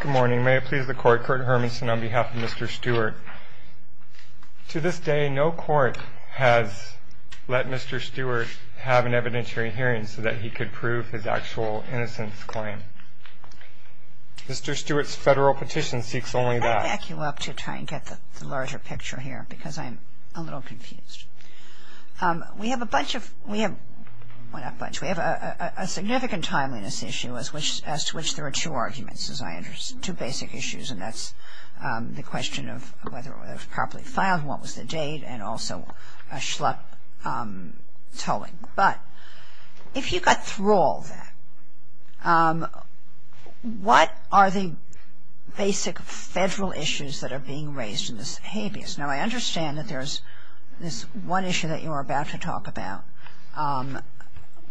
Good morning. May it please the Court, Kurt Hermanson on behalf of Mr. Stewart. To this day, no court has let Mr. Stewart have an evidentiary hearing so that he could prove his actual innocence claim. Mr. Stewart's federal petition seeks only that. I'll back you up to try and get the larger picture here because I'm a little confused. We have a significant timeliness issue as to which there are two arguments, two basic issues, and that's the question of whether it was properly filed, what was the date, and also a schluck tolling. But if you got through all that, what are the basic federal issues that are being raised in this habeas? Now, I understand that there's this one issue that you are about to talk about,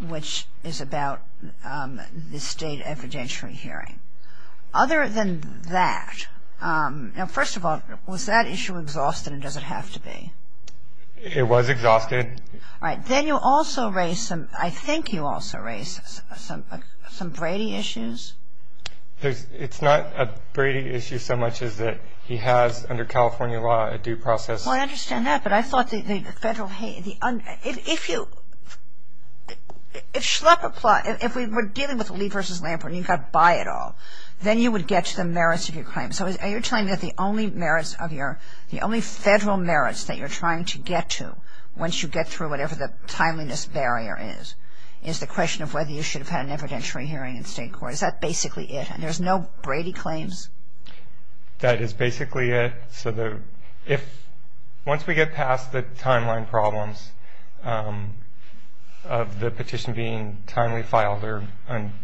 which is about the state evidentiary hearing. Other than that, now, first of all, was that issue exhausted and does it have to be? It was exhausted. All right. Then you also raised some, I think you also raised some Brady issues. It's not a Brady issue so much as that he has, under California law, a due process. Well, I understand that, but I thought the federal, if you, if schluck apply, if we were dealing with Lee v. Lampert and you've got to buy it all, then you would get to the merits of your claim. So you're telling me that the only merits of your, the only federal merits that you're trying to get to once you get through whatever the timeliness barrier is, is the question of whether you should have had an evidentiary hearing in state court. Is that basically it? And there's no Brady claims? That is basically it. So the, if, once we get past the timeline problems of the petition being timely filed or,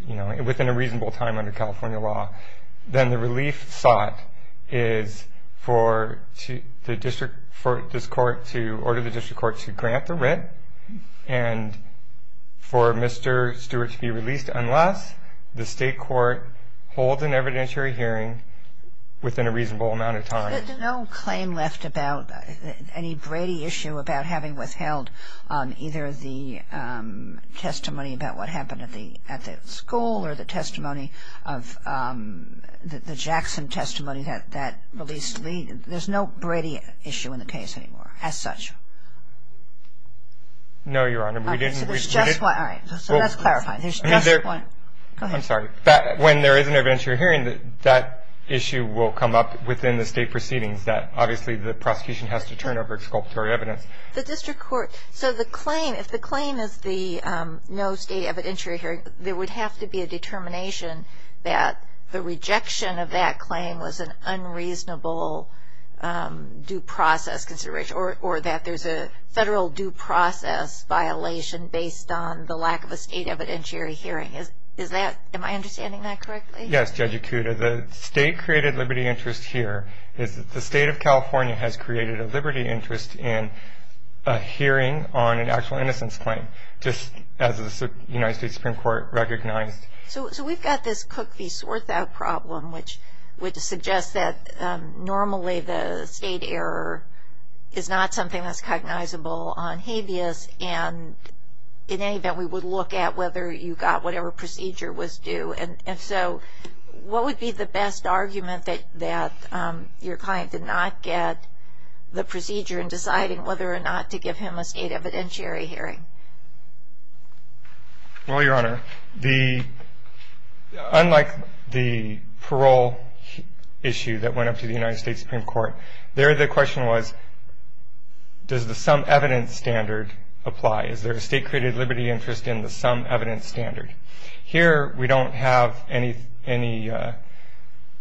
you know, within a reasonable time under California law, then the relief sought is for the district, for this court to, for the district court to grant the rent and for Mr. Stewart to be released, unless the state court holds an evidentiary hearing within a reasonable amount of time. There's no claim left about any Brady issue about having withheld either the testimony about what happened at the, at the school or the testimony of, the Jackson testimony that, that released Lee. There's no Brady issue in the case anymore as such. No, Your Honor, we didn't. So there's just one. All right, so that's clarifying. There's just one. I'm sorry. When there is an evidentiary hearing, that issue will come up within the state proceedings, that obviously the prosecution has to turn over exculpatory evidence. The district court, so the claim, if the claim is the no state evidentiary hearing, there would have to be a determination that the rejection of that claim was an unreasonable due process consideration or that there's a federal due process violation based on the lack of a state evidentiary hearing. Is that, am I understanding that correctly? Yes, Judge Ikuda. The state-created liberty interest here is that the state of California has created a liberty interest in a hearing on an just as the United States Supreme Court recognized. So we've got this Cook v. Swarthout problem, which would suggest that normally the state error is not something that's cognizable on habeas. And in any event, we would look at whether you got whatever procedure was due. And so what would be the best argument that your client did not get the procedure in deciding whether or not to give him a state evidentiary hearing? Well, Your Honor, unlike the parole issue that went up to the United States Supreme Court, there the question was, does the sum evidence standard apply? Is there a state-created liberty interest in the sum evidence standard? Here we don't have any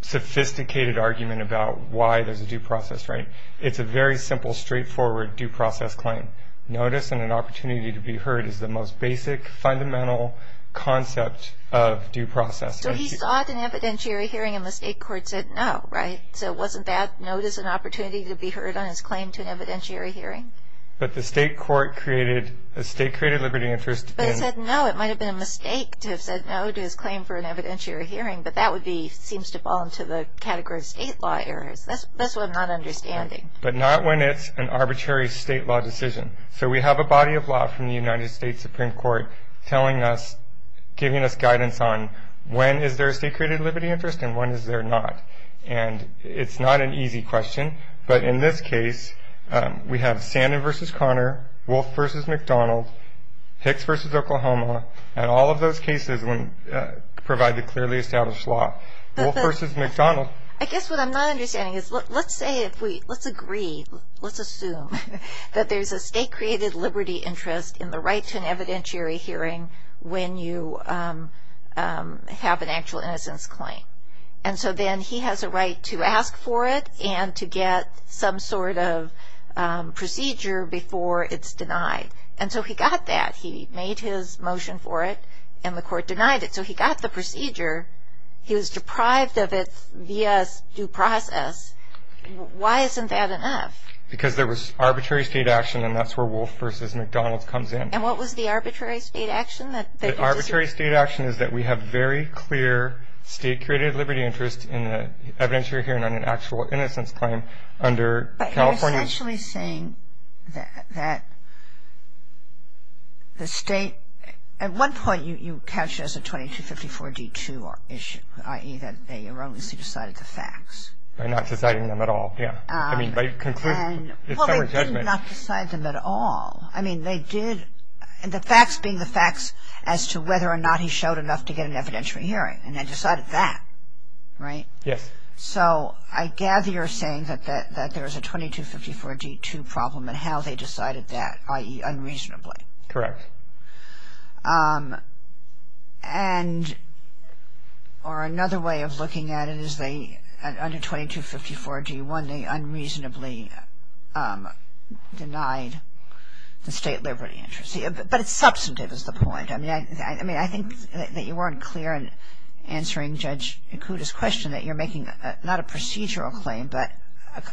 sophisticated argument about why there's a due process, right? It's a very simple, straightforward due process claim. Notice and an opportunity to be heard is the most basic, fundamental concept of due process. So he sought an evidentiary hearing and the state court said no, right? So wasn't that notice and opportunity to be heard on his claim to an evidentiary hearing? But the state court created a state-created liberty interest. But it said no. It might have been a mistake to have said no to his claim for an evidentiary hearing, but that would be, seems to fall into the category of state law errors. That's what I'm not understanding. But not when it's an arbitrary state law decision. So we have a body of law from the United States Supreme Court telling us, giving us guidance on when is there a state-created liberty interest and when is there not. And it's not an easy question, but in this case, we have Sandin v. Conner, Wolf v. McDonald, Hicks v. Oklahoma, and all of those cases provide the clearly established law. I guess what I'm not understanding is let's say if we, let's agree, let's assume that there's a state-created liberty interest in the right to an evidentiary hearing when you have an actual innocence claim. And so then he has a right to ask for it and to get some sort of procedure before it's denied. And so he got that. He made his motion for it and the court denied it. And so he got the procedure. He was deprived of it via due process. Why isn't that enough? Because there was arbitrary state action and that's where Wolf v. McDonald comes in. And what was the arbitrary state action? The arbitrary state action is that we have very clear state-created liberty interest in the evidentiary hearing on an actual innocence claim under California. You're essentially saying that the state, at one point you catch it as a 2254-D2 issue, i.e. that they erroneously decided the facts. By not deciding them at all, yeah. I mean by conclusion. Well, they did not decide them at all. I mean they did, the facts being the facts as to whether or not he showed enough to get an evidentiary hearing. And they decided that, right? Yes. So I gather you're saying that there's a 2254-D2 problem in how they decided that, i.e. unreasonably. Correct. And or another way of looking at it is they, under 2254-D1, they unreasonably denied the state liberty interest. But it's substantive is the point. I mean, I think that you weren't clear in answering Judge Ikuda's question that you're making not a procedural claim but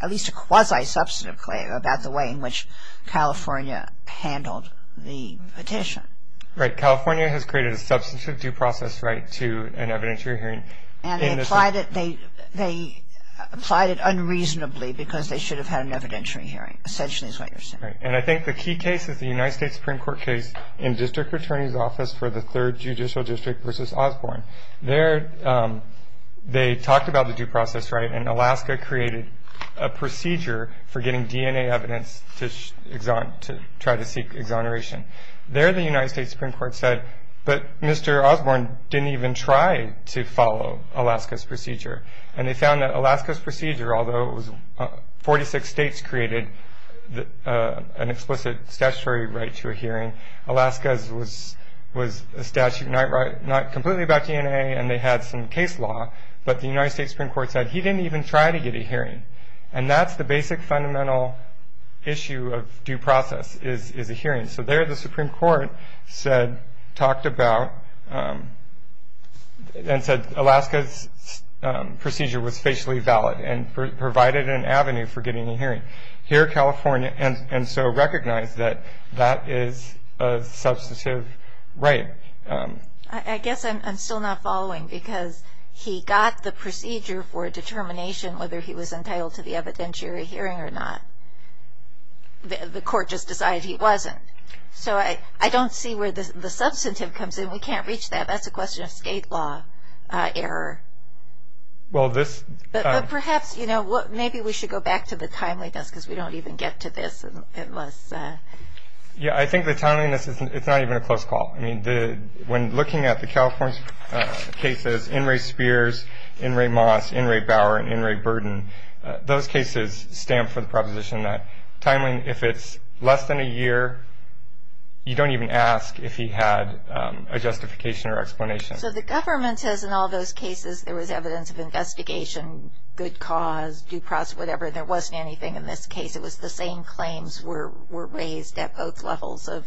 at least a quasi-substantive claim about the way in which California handled the petition. Right. California has created a substantive due process right to an evidentiary hearing. And they applied it unreasonably because they should have had an evidentiary hearing, essentially is what you're saying. Right. And I think the key case is the United States Supreme Court case in District Attorney's Office for the 3rd Judicial District versus Osborne. There they talked about the due process, right? And Alaska created a procedure for getting DNA evidence to try to seek exoneration. There the United States Supreme Court said, And they found that Alaska's procedure, although 46 states created an explicit statutory right to a hearing, Alaska's was a statute not completely about DNA and they had some case law, but the United States Supreme Court said he didn't even try to get a hearing. And that's the basic fundamental issue of due process is a hearing. And so there the Supreme Court said, talked about, and said Alaska's procedure was facially valid and provided an avenue for getting a hearing. Here California, and so recognized that that is a substantive right. I guess I'm still not following because he got the procedure for a determination whether he was entitled to the evidentiary hearing or not. The court just decided he wasn't. So I don't see where the substantive comes in. We can't reach that. That's a question of state law error. But perhaps, you know, maybe we should go back to the timeliness because we don't even get to this. Yeah, I think the timeliness, it's not even a close call. I mean, when looking at the California cases, In re Spears, In re Moss, In re Bower, and In re Burden, those cases stand for the proposition that if it's less than a year, you don't even ask if he had a justification or explanation. So the government says in all those cases there was evidence of investigation, good cause, due process, whatever. There wasn't anything in this case. It was the same claims were raised at both levels of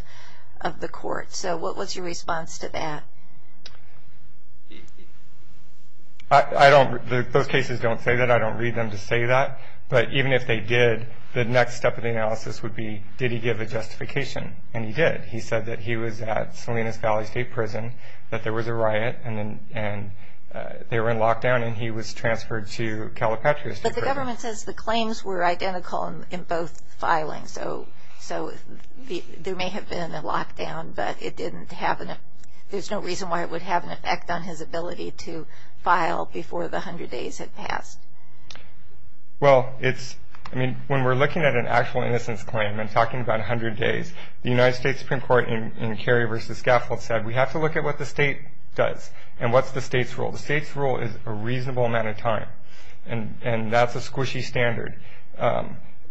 the court. So what was your response to that? I don't, those cases don't say that. I don't read them to say that. But even if they did, the next step of the analysis would be, did he give a justification? And he did. He said that he was at Salinas Valley State Prison, that there was a riot, and they were in lockdown and he was transferred to Calipatria State Prison. But the government says the claims were identical in both filings. So there may have been a lockdown, but it didn't have, there's no reason why it would have an effect on his ability to file before the 100 days had passed. Well, it's, I mean, when we're looking at an actual innocence claim and talking about 100 days, the United States Supreme Court in Kerry v. Skaffold said we have to look at what the state does and what's the state's rule. The state's rule is a reasonable amount of time, and that's a squishy standard.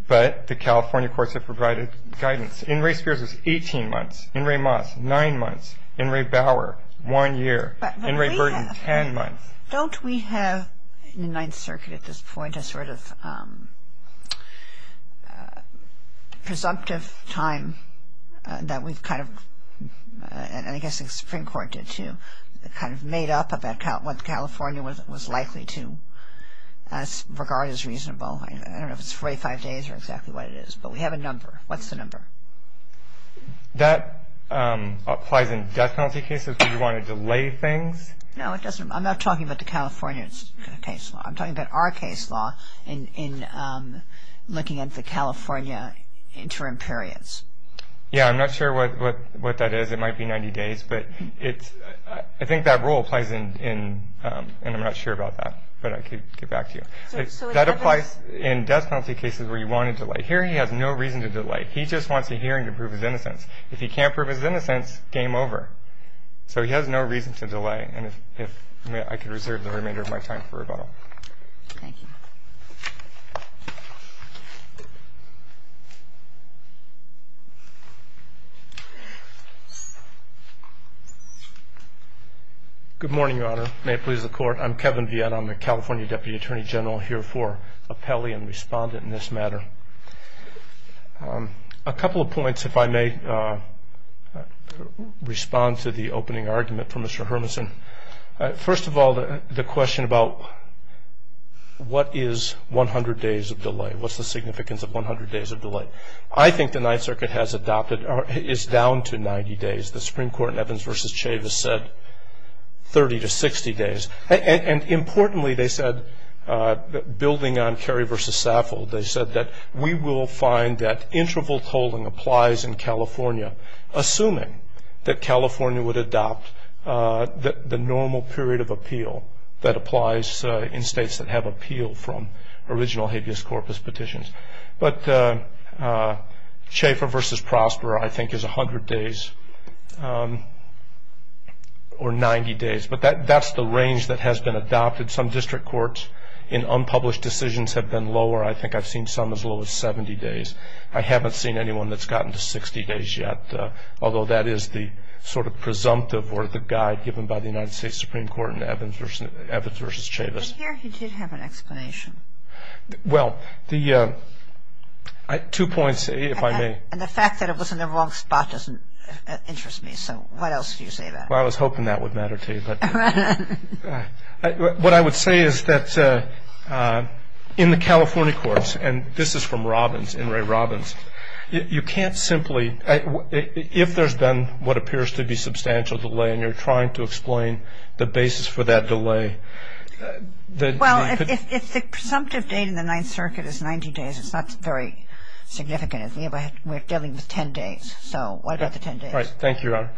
But the California courts have provided guidance. In re Spears, it's 18 months. In re Moss, 9 months. In re Bauer, 1 year. In re Burton, 10 months. But don't we have in the Ninth Circuit at this point a sort of presumptive time that we've kind of, and I guess the Supreme Court did too, kind of made up about what California was likely to regard as reasonable. I don't know if it's 45 days or exactly what it is, but we have a number. What's the number? That applies in death penalty cases where you want to delay things. No, it doesn't. I'm not talking about the California case law. I'm talking about our case law in looking at the California interim periods. Yeah, I'm not sure what that is. It might be 90 days, but it's I think that role plays in. And I'm not sure about that, but I could get back to you. That applies in death penalty cases where you want to delay. Here he has no reason to delay. He just wants a hearing to prove his innocence. If he can't prove his innocence, game over. So he has no reason to delay. Okay, and if I could reserve the remainder of my time for rebuttal. Thank you. Good morning, Your Honor. May it please the Court. I'm Kevin Vietta. I'm the California Deputy Attorney General here for appellee and respondent in this matter. A couple of points if I may respond to the opening argument from Mr. Hermison. First of all, the question about what is 100 days of delay? What's the significance of 100 days of delay? I think the Ninth Circuit has adopted or is down to 90 days. The Supreme Court in Evans v. Chavis said 30 to 60 days. Importantly, they said, building on Kerry v. Saffold, they said that we will find that interval tolling applies in California, assuming that California would adopt the normal period of appeal that applies in states that have appeal from original habeas corpus petitions. But Chafer v. Prosper, I think, is 100 days or 90 days. But that's the range that has been adopted. Some district courts in unpublished decisions have been lower. I think I've seen some as low as 70 days. I haven't seen anyone that's gotten to 60 days yet, although that is the sort of presumptive or the guide given by the United States Supreme Court in Evans v. Chavis. But here he did have an explanation. Well, two points if I may. And the fact that it was in the wrong spot doesn't interest me. So what else do you say about it? Well, I was hoping that would matter to you. What I would say is that in the California courts, and this is from Robbins, In re, Robbins, you can't simply if there's been what appears to be substantial delay and you're trying to explain the basis for that delay. Well, if the presumptive date in the Ninth Circuit is 90 days, it's not very significant. We're dealing with 10 days. So what about the 10 days? Thank you, Your Honor.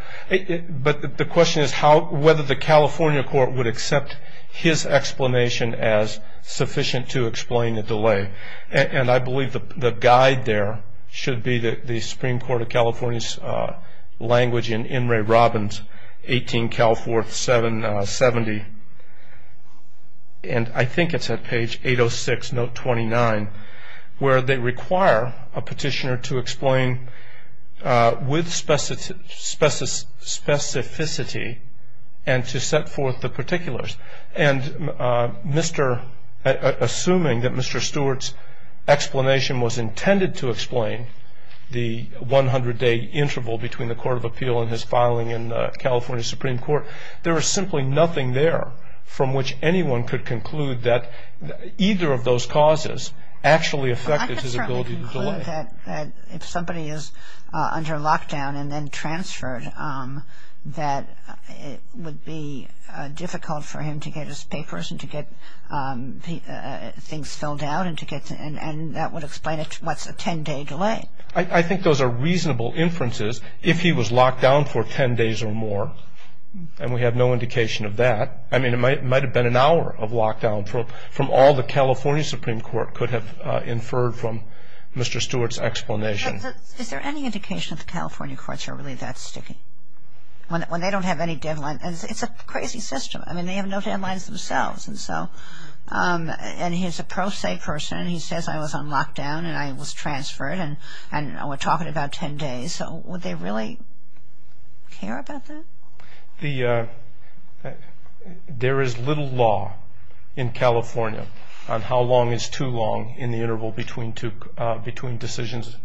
But the question is whether the California court would accept his explanation as sufficient to explain the delay. And I believe the guide there should be the Supreme Court of California's language in In re, Robbins, 18 Cal 470. And I think it's at page 806, note 29, where they require a petitioner to explain with specificity and to set forth the particulars. And assuming that Mr. Stewart's explanation was intended to explain the 100-day interval between the court of appeal and his filing in the California Supreme Court, there is simply nothing there from which anyone could conclude that either of those causes actually affected his ability to delay. I can certainly conclude that if somebody is under lockdown and then transferred, that it would be difficult for him to get his papers and to get things filled out and that would explain what's a 10-day delay. I think those are reasonable inferences. If he was locked down for 10 days or more, and we have no indication of that, I mean, it might have been an hour of lockdown from all the California Supreme Court could have inferred from Mr. Stewart's explanation. Is there any indication that the California courts are really that sticky? When they don't have any deadline. It's a crazy system. I mean, they have no deadlines themselves. And so, and he's a pro se person. He says, I was on lockdown and I was transferred and we're talking about 10 days. So would they really care about that? There is little law in California on how long is too long in the interval between decisions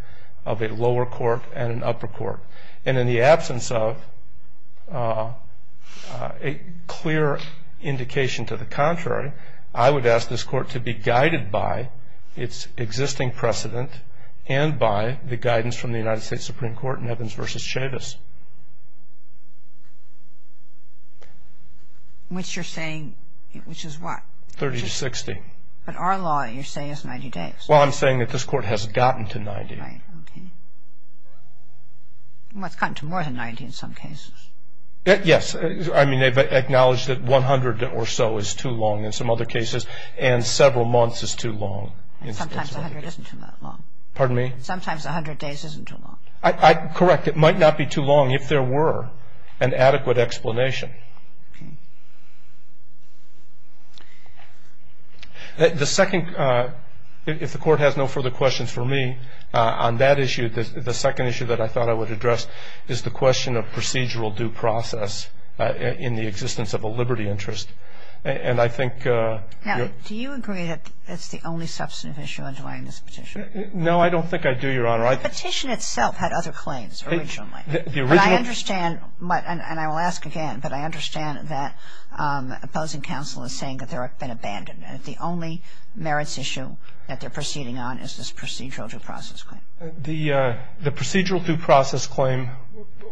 of a lower court and an upper court. And in the absence of a clear indication to the contrary, I would ask this court to be guided by its existing precedent and by the guidance from the United States Supreme Court in Evans v. Chavis. Which you're saying, which is what? 30 to 60. But our law, you say, is 90 days. Well, I'm saying that this court has gotten to 90. Right, okay. Well, it's gotten to more than 90 in some cases. Yes. I mean, they've acknowledged that 100 or so is too long in some other cases and several months is too long. Sometimes 100 isn't too long. Pardon me? Sometimes 100 days isn't too long. Correct. It might not be too long if there were an adequate explanation. Okay. The second, if the court has no further questions for me on that issue, the second issue that I thought I would address is the question of procedural due process in the existence of a liberty interest. Now, do you agree that it's the only substantive issue underlying this petition? No, I don't think I do, Your Honor. The petition itself had other claims originally. The original? But I understand, and I will ask again, but I understand that opposing counsel is saying that they've been abandoned and the only merits issue that they're proceeding on is this procedural due process claim. The procedural due process claim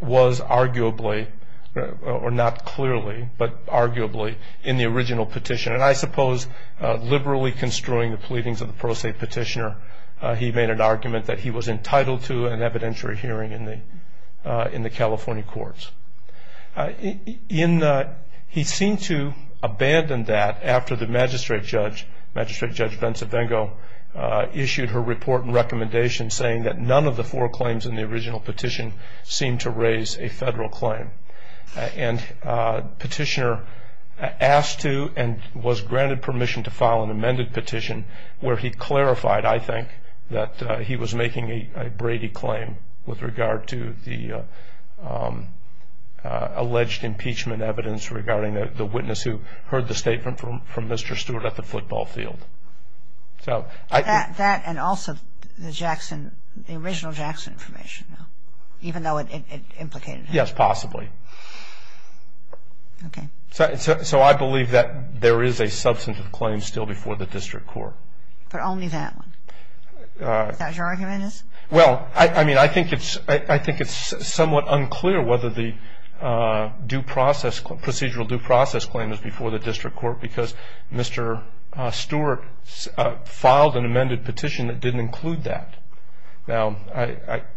was arguably, or not clearly, but arguably, in the original petition. And I suppose liberally construing the pleadings of the pro se petitioner, he made an argument that he was entitled to an evidentiary hearing in the California courts. He seemed to abandon that after the magistrate judge, Magistrate Judge Bencivengo, issued her report and recommendation saying that none of the four claims in the original petition seemed to raise a federal claim. And petitioner asked to and was granted permission to file an amended petition where he clarified, I think, that he was making a Brady claim with regard to the alleged impeachment evidence regarding the witness who heard the statement from Mr. Stewart at the football field. That and also the original Jackson information, even though it implicated him? Yes, possibly. Okay. So I believe that there is a substantive claim still before the district court. But only that one? Is that what your argument is? Well, I mean, I think it's somewhat unclear whether the procedural due process claim is before the district court because Mr. Stewart filed an amended petition that didn't include that. Now,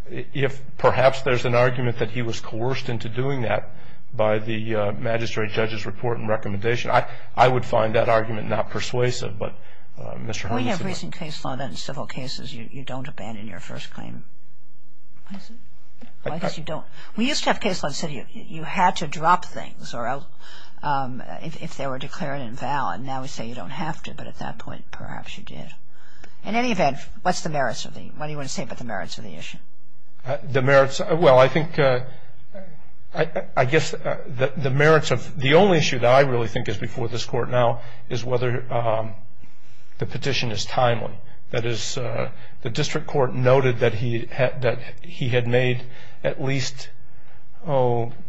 if perhaps there's an argument that he was coerced into doing that by the magistrate judge's report and recommendation, I would find that argument not persuasive. But Mr. Horne said that. We have recent case law that in civil cases you don't abandon your first claim. I guess you don't. We used to have case law that said you had to drop things if they were declared invalid. Now we say you don't have to, but at that point perhaps you did. In any event, what do you want to say about the merits of the issue? The merits? Well, I think I guess the merits of the only issue that I really think is before this court now is whether the petition is timely. That is, the district court noted that he had made at least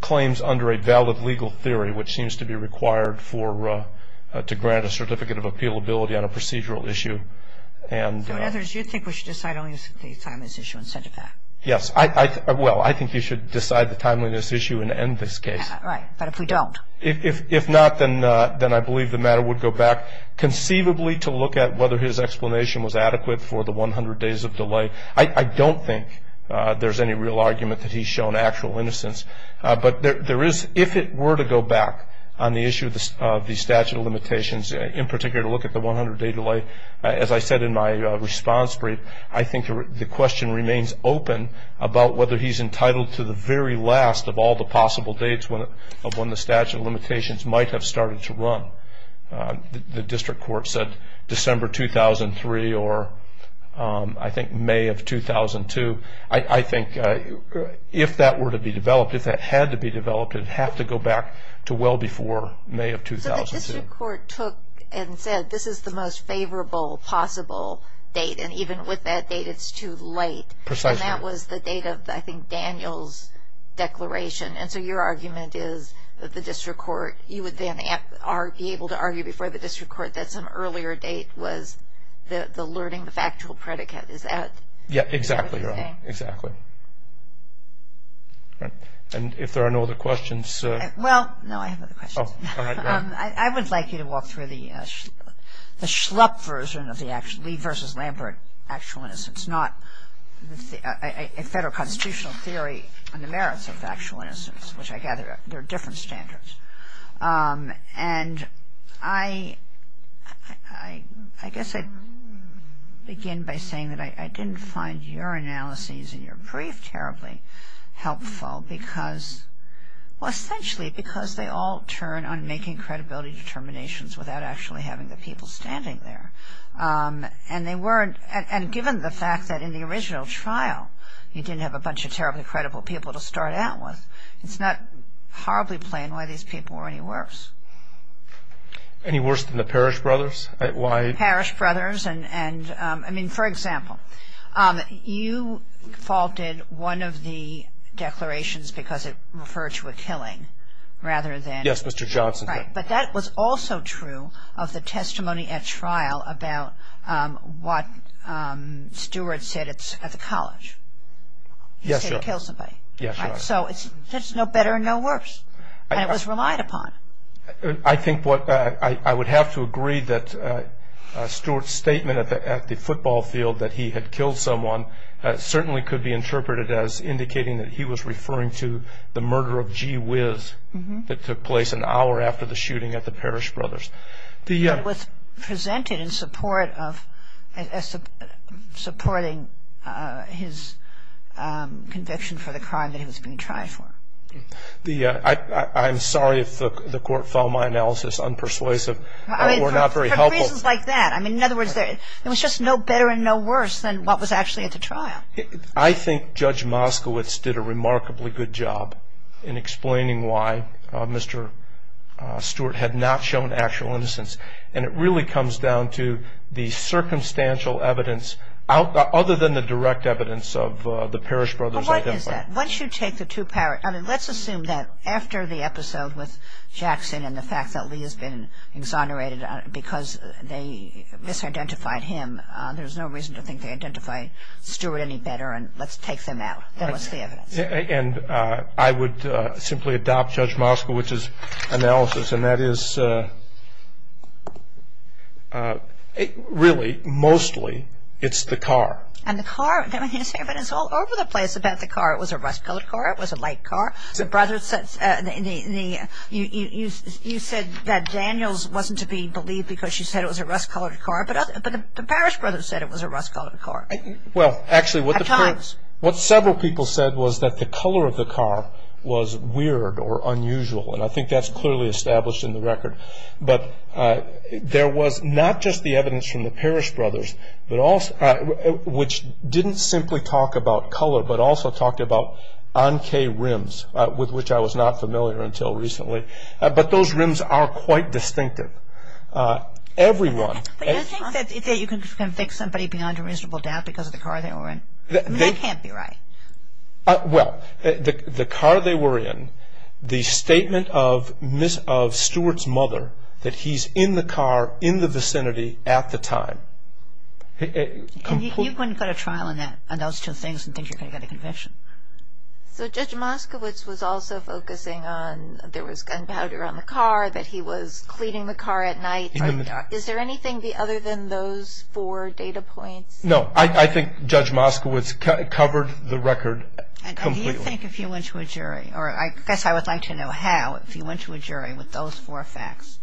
claims under a valid legal theory, which seems to be required to grant a certificate of appealability on a procedural issue. So in other words, you think we should decide only on the timeliness issue instead of that? Yes. Well, I think you should decide the timeliness issue and end this case. Right. But if we don't? If not, then I believe the matter would go back conceivably to look at whether his explanation was adequate for the 100 days of delay. I don't think there's any real argument that he's shown actual innocence. But if it were to go back on the issue of the statute of limitations, in particular to look at the 100-day delay, as I said in my response brief, I think the question remains open about whether he's entitled to the very last of all the possible dates of when the statute of limitations might have started to run. The district court said December 2003 or I think May of 2002. I think if that were to be developed, if that had to be developed, it would have to go back to well before May of 2002. So the district court took and said this is the most favorable possible date, and even with that date it's too late. Precisely. And that was the date of, I think, Daniel's declaration. And so your argument is that the district court, you would then be able to argue before the district court that some earlier date was the learning, the factual predicate. Is that correct? Yeah, exactly. Exactly. And if there are no other questions. Well, no, I have other questions. I would like you to walk through the schlup version of the Lee versus Lambert actual innocence, not a federal constitutional theory on the merits of the actual innocence, which I gather there are different standards. And I guess I'd begin by saying that I didn't find your analysis in your brief terribly helpful because, well, essentially because they all turn on making credibility determinations without actually having the people standing there. And given the fact that in the original trial you didn't have a bunch of terribly credible people to start out with, it's not horribly plain why these people were any worse. Any worse than the Parrish brothers? Parrish brothers and, I mean, for example, you faulted one of the declarations because it referred to a killing rather than... Yes, Mr. Johnson did. Right. But that was also true of the testimony at trial about what Stewart said at the college. Yes, Your Honor. He said he killed somebody. Yes, Your Honor. So there's no better and no worse. And it was relied upon. I think what I would have to agree that Stewart's statement at the football field that he had killed someone certainly could be interpreted as indicating that he was referring to the murder of Gee Whiz that took place an hour after the shooting at the Parrish brothers. It was presented in support of his conviction for the crime that he was being tried for. I'm sorry if the Court found my analysis unpersuasive or not very helpful. For reasons like that. I mean, in other words, there was just no better and no worse than what was actually at the trial. I think Judge Moskowitz did a remarkably good job in explaining why Mr. Stewart had not shown actual innocence, and it really comes down to the circumstantial evidence other than the direct evidence of the Parrish brothers' identity. Well, what is that? Once you take the two Parrish... I mean, let's assume that after the episode with Jackson and the fact that Lee has been exonerated because they misidentified him, there's no reason to think they identify Stewart any better, and let's take them out. Then what's the evidence? And I would simply adopt Judge Moskowitz's analysis, and that is really, mostly, it's the car. And the car... But it's all over the place about the car. It was a rust-colored car. It was a light car. The brothers said... You said that Daniels wasn't to be believed because she said it was a rust-colored car, but the Parrish brothers said it was a rust-colored car. Well, actually, what the... At times. What several people said was that the color of the car was weird or unusual, and I think that's clearly established in the record. But there was not just the evidence from the Parrish brothers, which didn't simply talk about color but also talked about anke rims, with which I was not familiar until recently. But those rims are quite distinctive. Everyone... But you think that you can convict somebody beyond a reasonable doubt because of the car they were in? I mean, that can't be right. Well, the car they were in, the statement of Stuart's mother, that he's in the car in the vicinity at the time. You couldn't go to trial on those two things and think you're going to get a conviction. So Judge Moskowitz was also focusing on there was gunpowder on the car, that he was cleaning the car at night. Is there anything other than those four data points? No. I think Judge Moskowitz covered the record completely. And do you think if you went to a jury, or I guess I would like to know how, if you went to a jury with those four facts,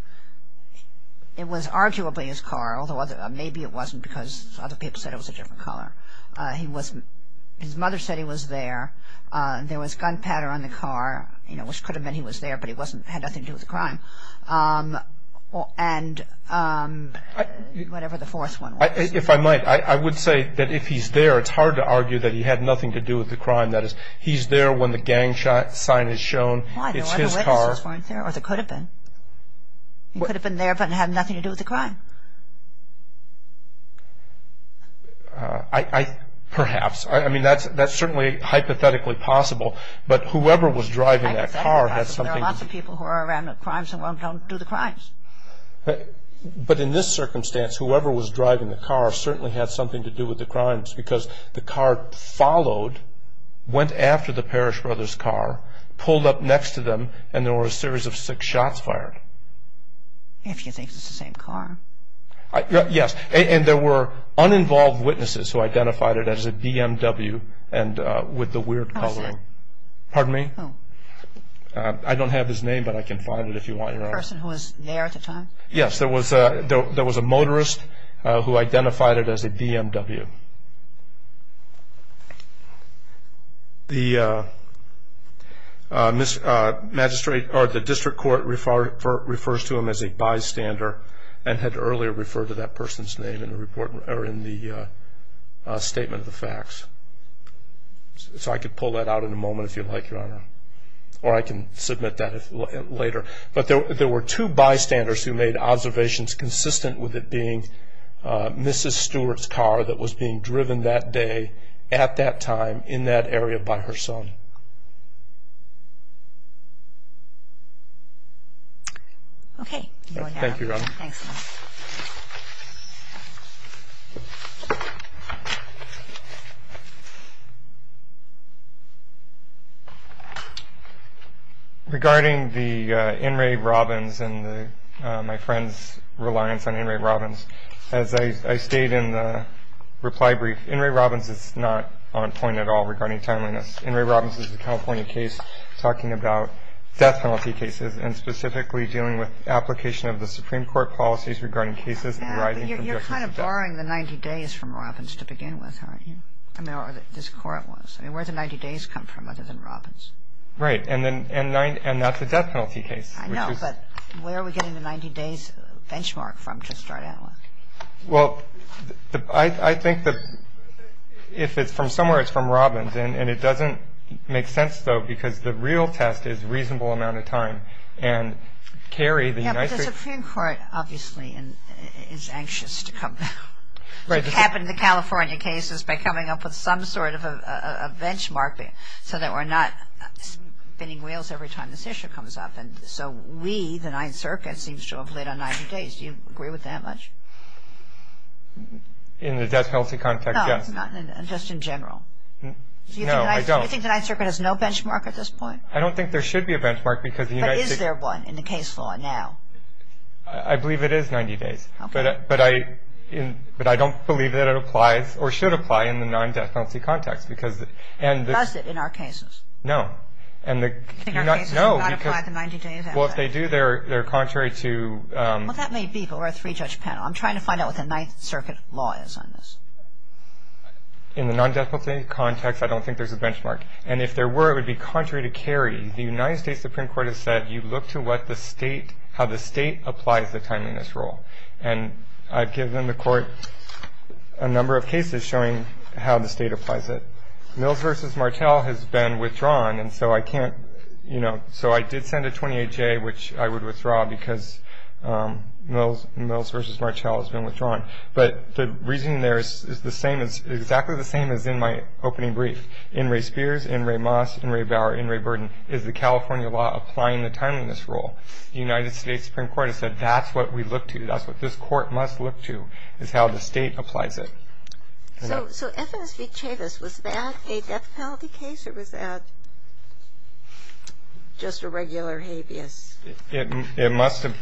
it was arguably his car, although maybe it wasn't because other people said it was a different color. His mother said he was there. There was gunpowder on the car, which could have meant he was there, but it had nothing to do with the crime. And whatever the fourth one was. If I might, I would say that if he's there, it's hard to argue that he had nothing to do with the crime. That is, he's there when the gang sign is shown, it's his car. Why? There were other witnesses, weren't there? Or there could have been. He could have been there, but it had nothing to do with the crime. Perhaps. I mean, that's certainly hypothetically possible. But whoever was driving that car had something to do with it. There are lots of people who are around the crimes and don't do the crimes. But in this circumstance, whoever was driving the car certainly had something to do with the crimes because the car followed, went after the Parrish brothers' car, pulled up next to them, and there were a series of six shots fired. If you think it's the same car. Yes. And there were uninvolved witnesses who identified it as a BMW with the weird color. Who was that? Pardon me? Who? I don't have his name, but I can find it if you want. The person who was there at the time? Yes. There was a motorist who identified it as a BMW. The district court refers to him as a bystander and had earlier referred to that person's name in the statement of the facts. So I could pull that out in a moment if you like, Your Honor. Or I can submit that later. But there were two bystanders who made observations consistent with it being Mrs. Stewart's car that was being driven that day at that time in that area by her son. Thank you, Your Honor. Thanks. Thank you. Regarding the In re Robbins and my friend's reliance on In re Robbins, as I stated in the reply brief, In re Robbins is not on point at all regarding timeliness. In re Robbins is a California case talking about death penalty cases and specifically dealing with application of the Supreme Court policies regarding cases arising from death penalty. You're kind of borrowing the 90 days from Robbins to begin with, aren't you? I mean, or this court was. I mean, where did the 90 days come from other than Robbins? Right. And that's a death penalty case. I know. But where are we getting the 90 days benchmark from to start out with? Well, I think that if it's from somewhere, it's from Robbins. And it doesn't make sense, though, because the real test is reasonable amount of time. And, Carrie, the United States. Yeah, but the Supreme Court obviously is anxious to come back. It happened in the California cases by coming up with some sort of a benchmark so that we're not spinning wheels every time this issue comes up. And so we, the Ninth Circuit, seems to have lit on 90 days. Do you agree with that much? In the death penalty context, yes. Just in general? No, I don't. Do you think the Ninth Circuit has no benchmark at this point? I don't think there should be a benchmark because the United States. But is there one in the case law now? I believe it is 90 days. Okay. But I don't believe that it applies or should apply in the non-death penalty context because... Does it in our cases? No. In our cases, it does not apply the 90 days. Well, if they do, they're contrary to... Well, that may be, but we're a three-judge panel. I'm trying to find out what the Ninth Circuit law is on this. In the non-death penalty context, I don't think there's a benchmark. And if there were, it would be contrary to Kerry. The United States Supreme Court has said you look to what the state, how the state applies the time in this rule. And I've given the court a number of cases showing how the state applies it. Mills v. Martell has been withdrawn, and so I can't, you know... But the reasoning there is the same as, exactly the same as in my opening brief. In re. Spears, in re. Moss, in re. Bower, in re. Burden is the California law applying the time in this rule. The United States Supreme Court has said that's what we look to. That's what this court must look to is how the state applies it. So F.S. v. Chavis, was that a death penalty case or was that just a regular habeas? It must have...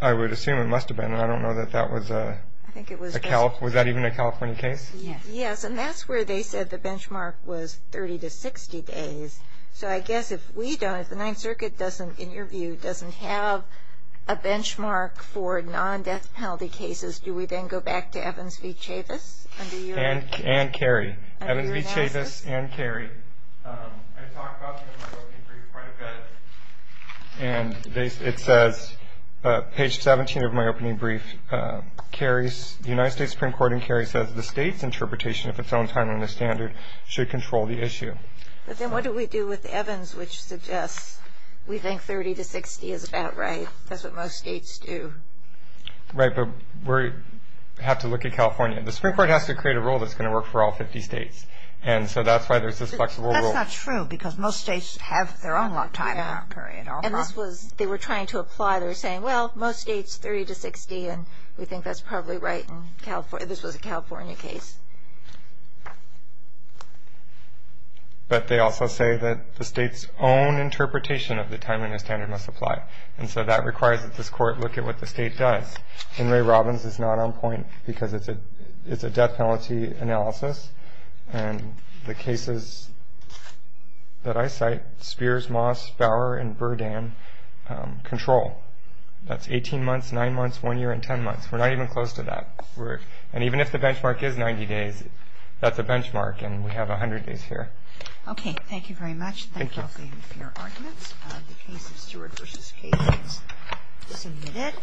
I would assume it must have been, and I don't know that that was a... I think it was... Was that even a California case? Yes, and that's where they said the benchmark was 30 to 60 days. So I guess if we don't, if the Ninth Circuit doesn't, in your view, doesn't have a benchmark for non-death penalty cases, do we then go back to Evans v. Chavis under your... And Kerry. Under your analysis. Evans v. Chavis and Kerry. I talked about them in my opening brief quite a bit, and it says, page 17 of my opening brief, the United States Supreme Court and Kerry says the state's interpretation of its own time and the standard should control the issue. But then what do we do with Evans, which suggests we think 30 to 60 is about right? That's what most states do. Right, but we have to look at California. The Supreme Court has to create a rule that's going to work for all 50 states, and so that's why there's this flexible rule. That's not true, because most states have their own time in that period. And this was, they were trying to apply, they were saying, well, most states, 30 to 60, and we think that's probably right in California. This was a California case. But they also say that the state's own interpretation of the time and the standard must apply, and so that requires that this Court look at what the state does. And Ray Robbins is not on point, because it's a death penalty analysis, and the cases that I cite, Spears, Moss, Bower, and Burdan control. That's 18 months, 9 months, 1 year, and 10 months. We're not even close to that. And even if the benchmark is 90 days, that's a benchmark, and we have 100 days here. Okay, thank you very much. Thank you. Thank you for your arguments. The case of Stewart v. Case is submitted.